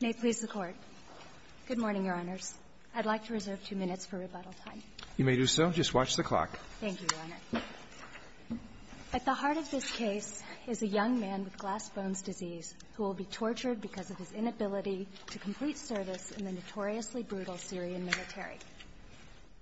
May it please the Court. Good morning, Your Honors. I'd like to reserve two minutes for rebuttal time. You may do so. Just watch the clock. Thank you, Your Honor. At the heart of this case is a young man with glass-bones disease who will be tortured because of his inability to complete service in the notoriously brutal Syrian military.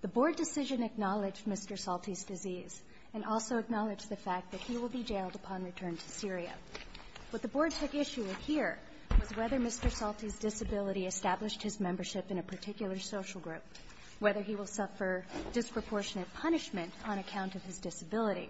The Board decision acknowledged Mr. Salti's disease and also acknowledged the fact that he will be jailed upon return to Syria. What the Board took issue with here was whether Mr. Salti's disability established his membership in a particular social group, whether he will suffer disproportionate punishment on account of his disability.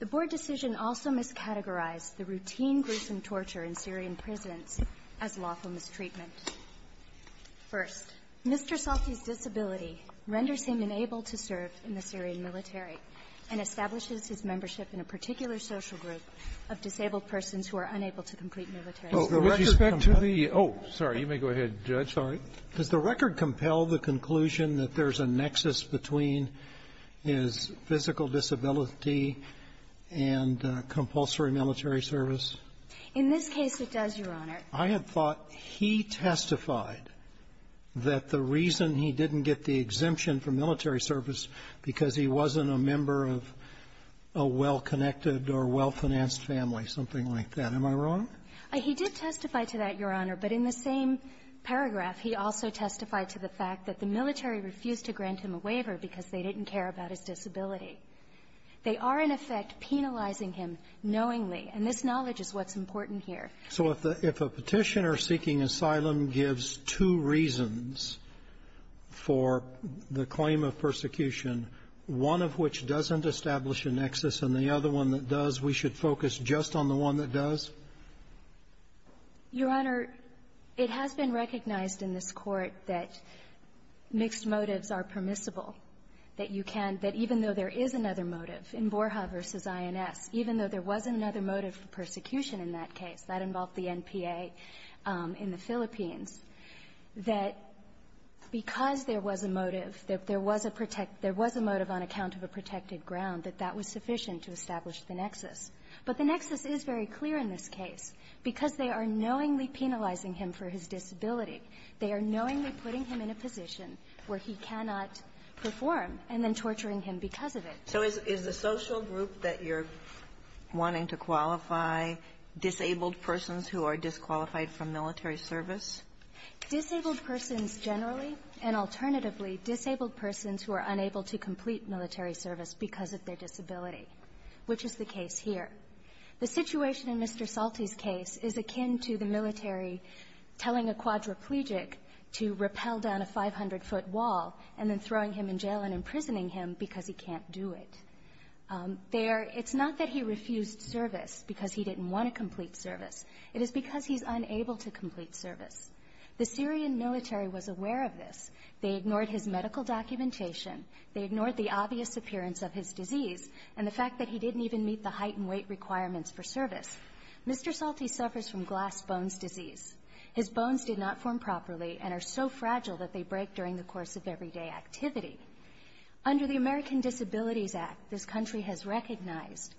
The Board decision also miscategorized the routine gruesome torture in Syrian prisons as lawful mistreatment. First, Mr. Salti's disability renders him unable to serve in the Syrian military and establishes his membership in a particular social group of disabled persons who are unable to complete military service. So with respect to the — oh, sorry. You may go ahead, Judge. Sorry. Does the record compel the conclusion that there's a nexus between his physical disability and compulsory military service? In this case, it does, Your Honor. I had thought he testified that the reason he didn't get the exemption for military service because he wasn't a member of a well-connected or well-financed family, something like that. Am I wrong? He did testify to that, Your Honor. But in the same paragraph, he also testified to the fact that the military refused to grant him a waiver because they didn't care about his disability. They are, in effect, penalizing him knowingly. And this knowledge is what's important here. So if a Petitioner seeking asylum gives two reasons for the claim of persecution, one of which doesn't establish a nexus, and the other one that does, we should focus just on the one that does? Your Honor, it has been recognized in this Court that mixed motives are permissible, that you can — that even though there is another motive in Borja v. INS, even though there was another motive for persecution in that case, that involved the NPA in the Philippines, that because there was a motive, that there was a — there was a motive on account of a protected ground, that that was sufficient to establish the nexus. But the nexus is very clear in this case. Because they are knowingly penalizing him for his disability, they are knowingly putting him in a position where he cannot perform, and then torturing him because of it. So is the social group that you're wanting to qualify disabled persons who are disqualified from military service? Disabled persons generally, and alternatively, disabled persons who are unable to complete military service because of their disability, which is the case here. The situation in Mr. Salti's case is akin to the military telling a quadriplegic to rappel down a 500-foot wall and then throwing him in jail and imprisoning him because he can't do it. There, it's not that he refused service because he didn't want to complete service. It is because he's unable to complete service. The Syrian military was aware of this. They ignored his medical documentation. They ignored the obvious appearance of his disease and the fact that he didn't even meet the height and weight requirements for service. Mr. Salti suffers from glass bones disease. His bones did not form properly and are so fragile that they break during the course of everyday activity. Under the American Disabilities Act, this country has recognized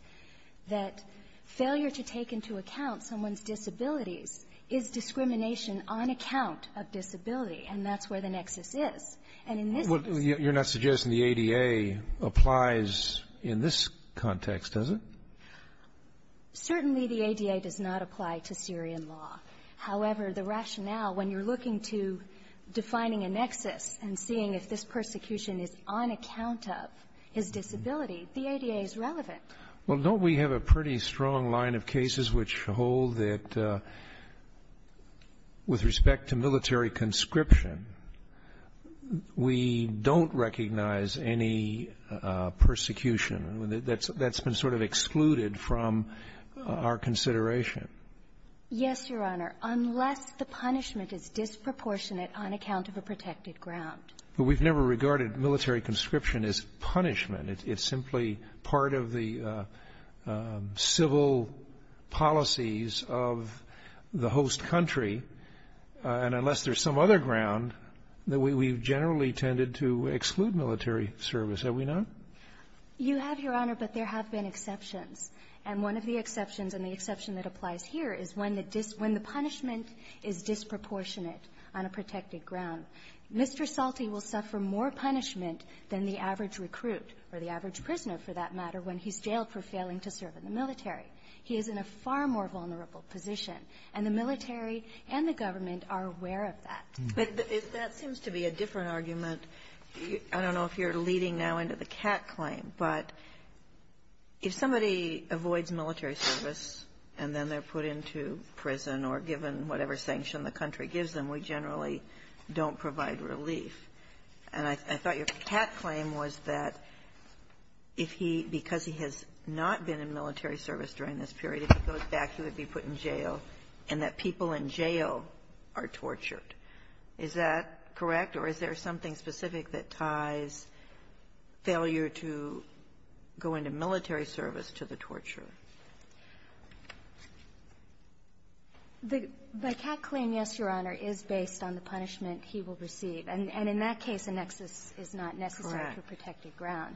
that failure to take into account someone's disabilities is discrimination on account of disability, and that's where the nexus is. And in this case you're not suggesting the ADA applies in this context, is it? Certainly, the ADA does not apply to Syrian law. However, the rationale, when you're looking to defining a nexus and seeing if this persecution is on account of his disability, the ADA is relevant. Well, don't we have a pretty strong line of cases which hold that with respect to military conscription, we don't recognize any persecution? That's been sort of excluded from our consideration. Yes, Your Honor, unless the punishment is disproportionate on account of a protected ground. But we've never regarded military conscription as punishment. It's simply part of the civil policies of the host country. And unless there's some other ground, we've generally tended to exclude military service. Have we not? You have, Your Honor, but there have been exceptions. And one of the exceptions, and the exception that applies here, is when the punishment is disproportionate on a protected ground. Mr. Salti will suffer more punishment than the average recruit, or the average prisoner, for that matter, when he's jailed for failing to serve in the military. He is in a far more vulnerable position, and the military and the government are aware of that. But that seems to be a different argument. I don't know if you're leading now into the cat claim, but if somebody avoids military service and then they're put into prison or given whatever sanction the country gives them, we generally don't provide relief. And I thought your cat claim was that if he — because he has not been in military service during this period, if he goes back, he would be put in jail, and that people in jail are tortured. Is that correct? Or is there something specific that ties failure to going to military service to the torture? The cat claim, yes, Your Honor, is based on the punishment he will receive. And in that case, a nexus is not necessary to a protected ground.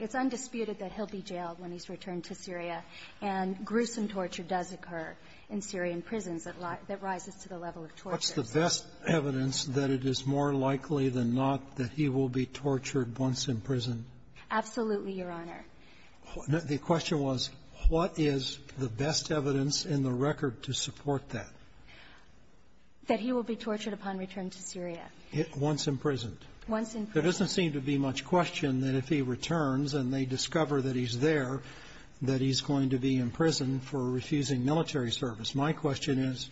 It's undisputed that he'll be jailed when he's returned to Syria. And gruesome torture does occur in Syrian prisons that rises to the level of torture. What's the best evidence that it is more likely than not that he will be tortured once in prison? Absolutely, Your Honor. The question was, what is the best evidence in the record to support that? That he will be tortured upon return to Syria. Once imprisoned. Once imprisoned. There doesn't seem to be much question that if he returns and they discover that he's there, that he's going to be imprisoned for refusing military service. My question is,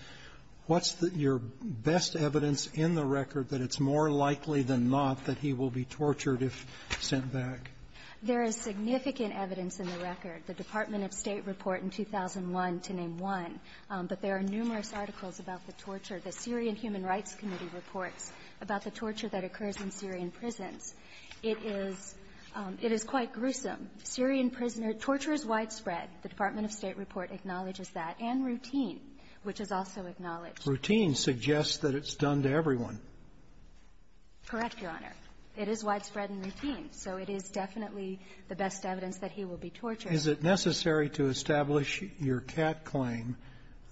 what's your best evidence in the record that it's more likely than not that he will be tortured if sent back? There is significant evidence in the record. The Department of State report in 2001, to name one. But there are numerous articles about the torture. The Syrian Human Rights Committee reports about the torture that occurs in Syrian prisons. It is quite gruesome. Syrian prisoner torture is widespread. The Department of State report acknowledges that, and routine, which is also acknowledged. Routine suggests that it's done to everyone. Correct, Your Honor. It is widespread and routine. So it is definitely the best evidence that he will be tortured. Is it necessary to establish your cat claim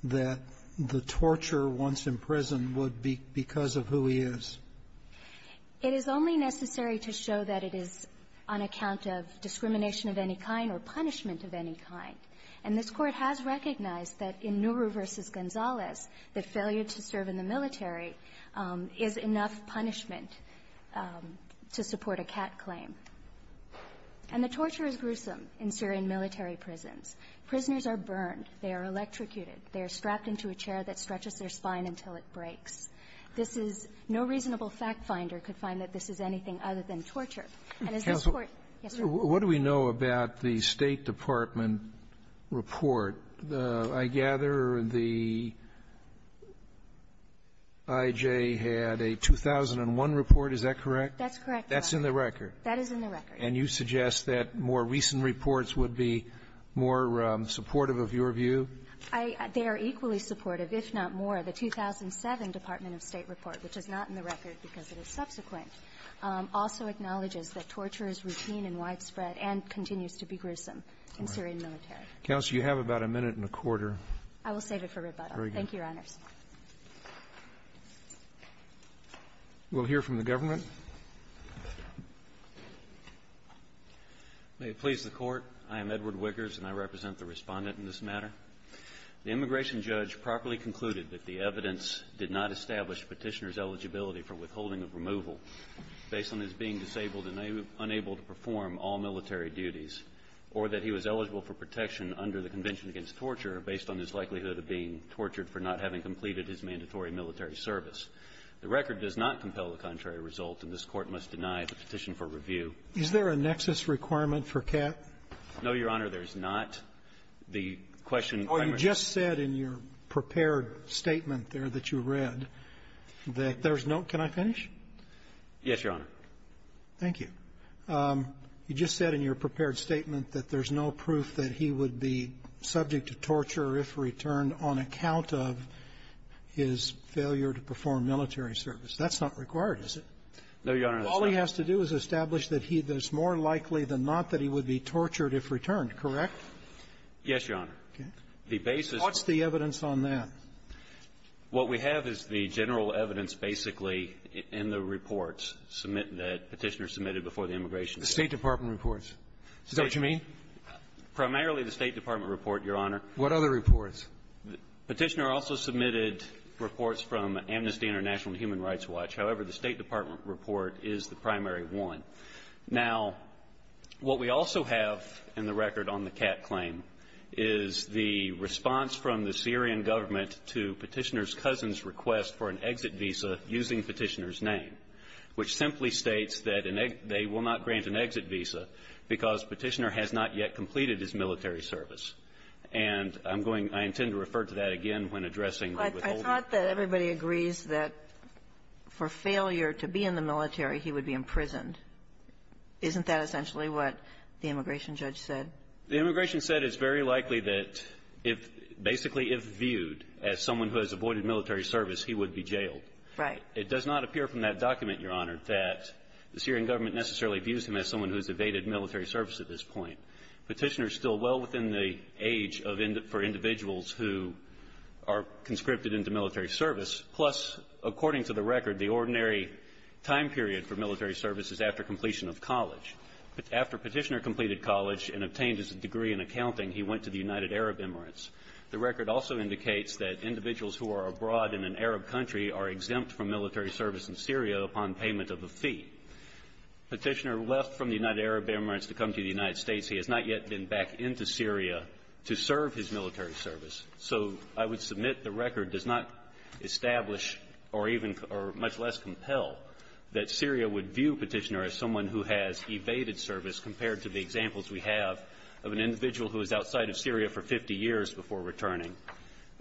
that the torture once imprisoned would be because of who he is? It is only necessary to show that it is on account of discrimination of any kind or punishment of any kind. And this Court has recognized that in Nourou versus Gonzalez, that failure to serve in the military is enough punishment to support a cat claim. And the torture is gruesome in Syrian military prisons. Prisoners are burned. They are electrocuted. They are strapped into a chair that stretches their spine until it breaks. This is no reasonable fact finder could find that this is anything other than torture. And as this Court yesterday What do we know about the State Department report? I gather the IJ had a 2001 report. Is that correct? That's correct, Your Honor. That's in the record. That is in the record. And you suggest that more recent reports would be more supportive of your view? I they are equally supportive, if not more. The 2007 Department of State report, which is not in the record because it is subsequent, also acknowledges that torture is routine and widespread and continues to be gruesome in Syrian military. Counsel, you have about a minute and a quarter. I will save it for rebuttal. Thank you, Your Honors. We'll hear from the government. May it please the court. I am Edward Wickers and I represent the respondent in this matter. The immigration judge properly concluded that the evidence did not establish petitioner's eligibility for withholding of removal based on his being disabled and unable to perform all military duties or that he was eligible for protection under the Convention Against Torture based on his likelihood of being tortured for not having completed his mandatory military service. The record does not compel the contrary result, and this Court must deny the petition for review. Is there a nexus requirement for CAT? No, Your Honor. There is not. The question by my ---- Well, you just said in your prepared statement there that you read that there's no ---- Can I finish? Yes, Your Honor. Thank you. You just said in your prepared statement that there's no proof that he would be subject to torture if returned on account of his failure to perform military service. That's not required, is it? No, Your Honor. All he has to do is establish that he ---- that it's more likely than not that he would be tortured if returned, correct? Yes, Your Honor. Okay. The basis ---- What's the evidence on that? What we have is the general evidence basically in the reports submit ---- that Petitioner submitted before the immigration ---- The State Department reports. Is that what you mean? Primarily the State Department report, Your Honor. What other reports? Petitioner also submitted reports from Amnesty International and Human Rights Watch. However, the State Department report is the primary one. Now, what we also have in the record on the CAT claim is the response from the Syrian government to Petitioner's cousin's request for an exit visa using Petitioner's It's that they will not grant an exit visa because Petitioner has not yet completed his military service. And I'm going to ---- I intend to refer to that again when addressing the withholding. I thought that everybody agrees that for failure to be in the military, he would be imprisoned. Isn't that essentially what the immigration judge said? The immigration said it's very likely that if ---- basically if viewed as someone who has avoided military service, he would be jailed. Right. It does not appear from that document, Your Honor, that the Syrian government necessarily views him as someone who has evaded military service at this point. Petitioner is still well within the age for individuals who are conscripted into military service. Plus, according to the record, the ordinary time period for military service is after completion of college. After Petitioner completed college and obtained his degree in accounting, he went to the United Arab Emirates. The record also indicates that individuals who are abroad in an Arab country are exempt from military service in Syria upon payment of a fee. Petitioner left from the United Arab Emirates to come to the United States. He has not yet been back into Syria to serve his military service. So I would submit the record does not establish or even or much less compel that Syria would view Petitioner as someone who has evaded service compared to the examples we have of an individual who was outside of Syria for 50 years before returning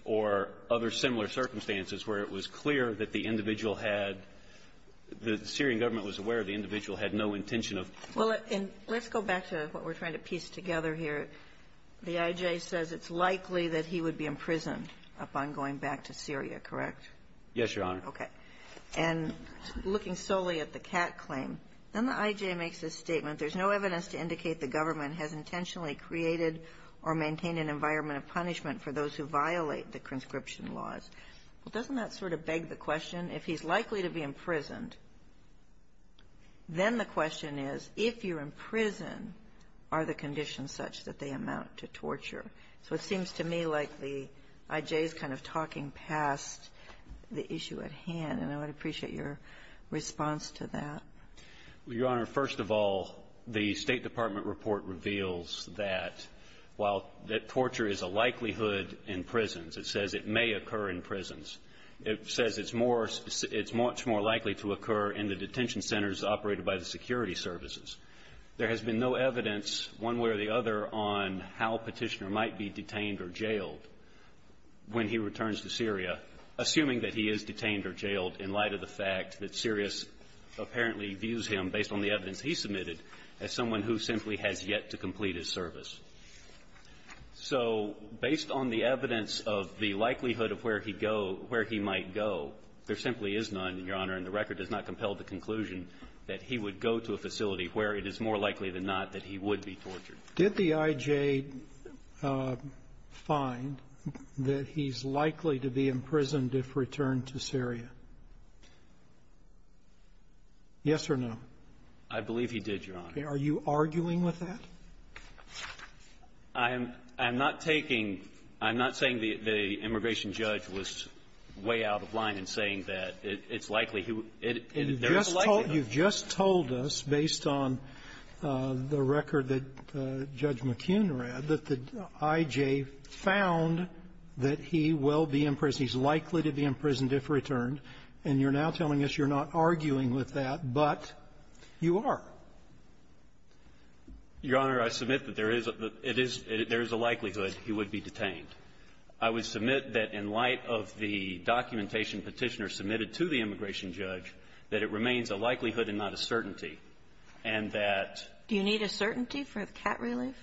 or other similar circumstances where it was clear that the individual had the Syrian government was aware the individual had no intention of going back. And let's go back to what we're trying to piece together here. The I.J. says it's likely that he would be imprisoned upon going back to Syria, correct? Yes, Your Honor. Okay. And looking solely at the Catt claim, then the I.J. makes this statement. There's no evidence to indicate the government has intentionally created or maintained an environment of punishment for those who violate the conscription laws. But doesn't that sort of beg the question? If he's likely to be imprisoned, then the question is if you're in prison, are the conditions such that they amount to torture? So it seems to me like the I.J. is kind of talking past the issue at hand. And I would appreciate your response to that. Your Honor, first of all, the State Department report reveals that while that torture is a likelihood in prisons, it says it may occur in prisons, it says it's much more likely to occur in the detention centers operated by the security services. There has been no evidence one way or the other on how Petitioner might be detained or jailed when he returns to Syria, assuming that he is detained or jailed in light of the fact that Sirius apparently views him, based on the evidence he submitted, as someone who simply has yet to complete his service. So based on the evidence of the likelihood of where he go – where he might go, there simply is none, Your Honor, and the record does not compel the conclusion that he would go to a facility where it is more likely than not that he would be tortured. Did the I.J. find that he's likely to be imprisoned if returned to Syria? Yes or no? I believe he did, Your Honor. Are you arguing with that? I'm not taking – I'm not saying the immigration judge was way out of line in saying that it's likely he would – there is a likelihood. You've just told us, based on the record that Judge McKeon read, that the I.J. found that he will be imprisoned. He's likely to be imprisoned if returned. And you're now telling us you're not arguing with that, but you are. Your Honor, I submit that there is a – it is – there is a likelihood he would be detained. I would submit that in light of the documentation Petitioner submitted to the immigration judge, that it remains a likelihood and not a certainty, and that – Do you need a certainty for the cat relief?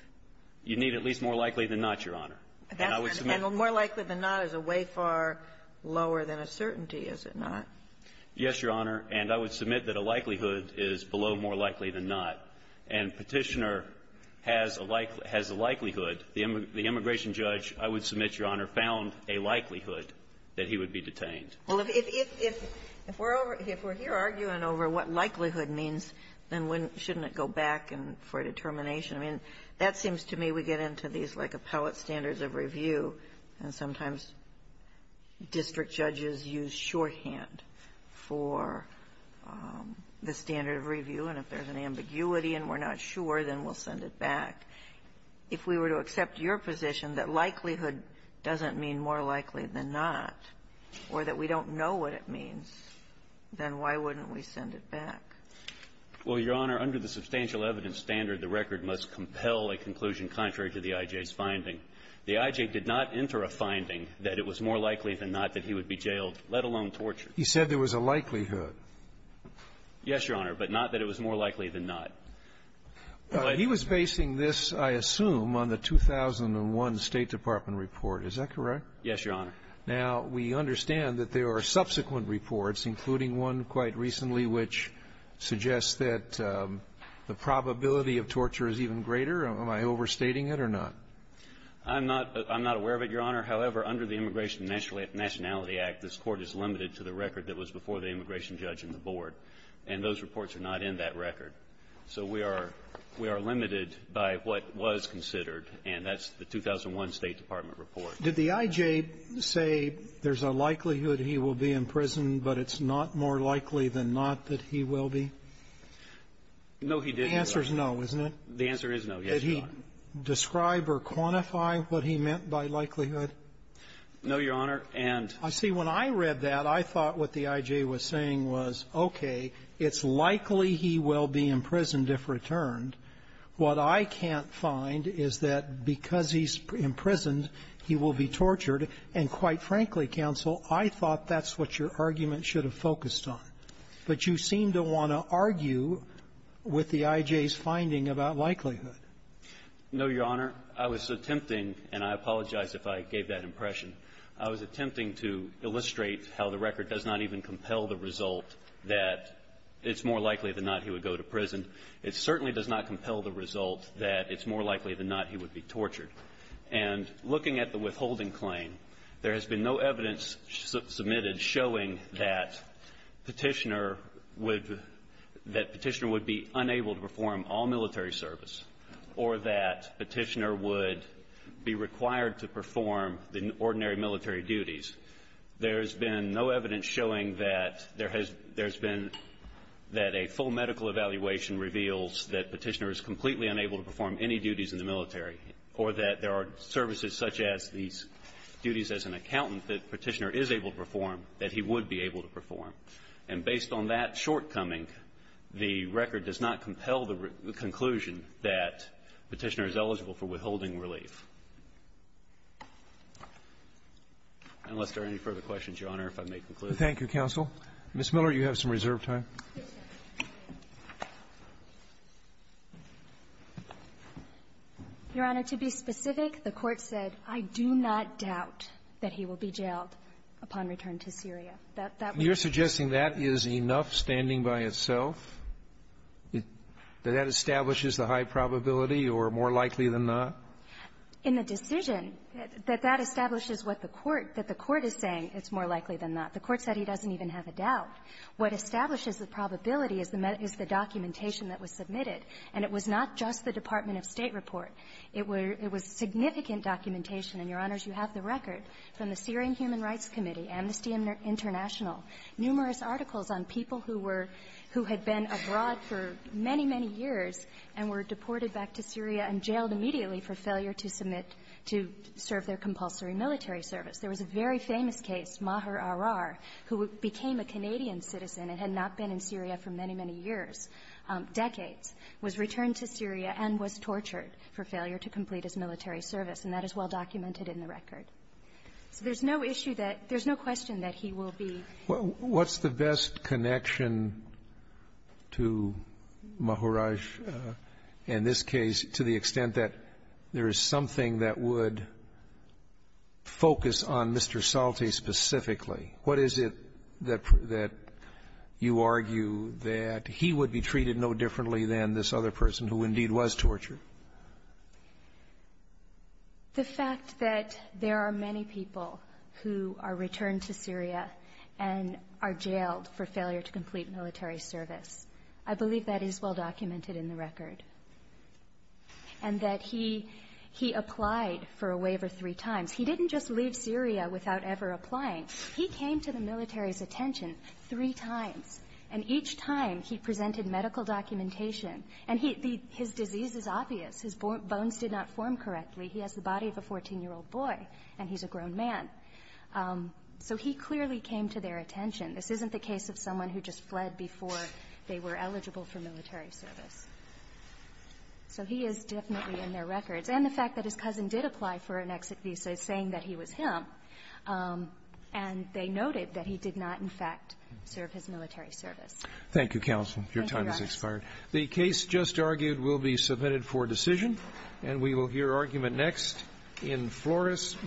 You need at least more likely than not, Your Honor. And I would submit – And more likely than not is a way far lower than a certainty, is it not? Yes, Your Honor. And I would submit that a likelihood is below more likely than not. And Petitioner has a likelihood. The immigration judge, I would submit, Your Honor, found a likelihood that he would be detained. Well, if we're over – if we're here arguing over what likelihood means, then when shouldn't it go back for determination? I mean, that seems to me we get into these, like, appellate standards of review, and sometimes district judges use shorthand for the standard of review. And if there's an ambiguity and we're not sure, then we'll send it back. If we were to accept your position that likelihood doesn't mean more likely than not, or that we don't know what it means, then why wouldn't we send it back? Well, Your Honor, under the substantial evidence standard, the record must compel a conclusion contrary to the IJ's finding. The IJ did not enter a finding that it was more likely than not that he would be jailed, let alone tortured. He said there was a likelihood. Yes, Your Honor, but not that it was more likely than not. He was basing this, I assume, on the 2001 State Department report. Is that correct? Yes, Your Honor. Now, we understand that there are subsequent reports, including one quite recently, which suggests that the probability of torture is even greater. Am I overstating it or not? I'm not aware of it, Your Honor. However, under the Immigration and Nationality Act, this Court is limited to the record that was before the immigration judge and the board. And those reports are not in that record. So we are limited by what was considered, and that's the 2001 State Department report. Did the IJ say there's a likelihood he will be in prison, but it's not more likely than not that he will be? No, he didn't, Your Honor. The answer is no, isn't it? The answer is no, yes, Your Honor. Did he describe or quantify what he meant by likelihood? And the other thing is that he's not going to be in prison. I see. When I read that, I thought what the IJ was saying was, okay, it's likely he will be imprisoned if returned. What I can't find is that because he's imprisoned, he will be tortured. And quite frankly, counsel, I thought that's what your argument should have focused on. But you seem to want to argue with the IJ's finding about likelihood. No, Your Honor. I was attempting, and I apologize if I gave that impression. I was attempting to illustrate how the record does not even compel the result that it's more likely than not he would go to prison. It certainly does not compel the result that it's more likely than not he would be tortured. And looking at the withholding claim, there has been no evidence submitted showing that Petitioner would be unable to perform all military service or that Petitioner would be required to perform the ordinary military duties. There has been no evidence showing that there has been that a full medical evaluation reveals that Petitioner is completely unable to perform any duties in the military or that there are services such as these duties as an accountant that Petitioner is able to perform that he would be able to perform. And based on that shortcoming, the record does not compel the conclusion that Petitioner is eligible for withholding relief. Unless there are any further questions, Your Honor, if I may conclude. Thank you, counsel. Ms. Miller, you have some reserve time. Your Honor, to be specific, the Court said, I do not doubt that he will be jailed. Upon return to Syria. That would be the case. You're suggesting that is enough standing by itself, that that establishes the high probability or more likely than not? In the decision, that that establishes what the Court – that the Court is saying it's more likely than not. The Court said he doesn't even have a doubt. What establishes the probability is the documentation that was submitted. And it was not just the Department of State report. It was significant documentation. And, Your Honors, you have the record from the Syrian Human Rights Committee and the STEAM International, numerous articles on people who were – who had been abroad for many, many years and were deported back to Syria and jailed immediately for failure to submit – to serve their compulsory military service. There was a very famous case. Maher Arrar, who became a Canadian citizen and had not been in Syria for many, many years, decades, was returned to Syria and was tortured for failure to complete his military service. And that is well-documented in the record. So there's no issue that – there's no question that he will be – What's the best connection to Maher Arrar in this case, to the extent that there is something that would focus on Mr. Salte specifically? What is it that you argue that he would be treated no differently than this other person who indeed was tortured? The fact that there are many people who are returned to Syria and are jailed for failure to complete military service. I believe that is well-documented in the record. And that he – he applied for a waiver three times. He didn't just leave Syria without ever applying. He came to the military's attention three times. And each time, he presented medical documentation. And he – the – his disease is obvious. His bones did not form correctly. He has the body of a 14-year-old boy, and he's a grown man. So he clearly came to their attention. This isn't the case of someone who just fled before they were eligible for military service. So he is definitely in their records. And the fact that his cousin did apply for an exit visa saying that he was him, and they noted that he did not, in fact, serve his military service. Thank you, Counsel. Your time has expired. Thank you, Your Honor. The case just argued will be submitted for decision. And we will hear argument next in Flores v. Stewart.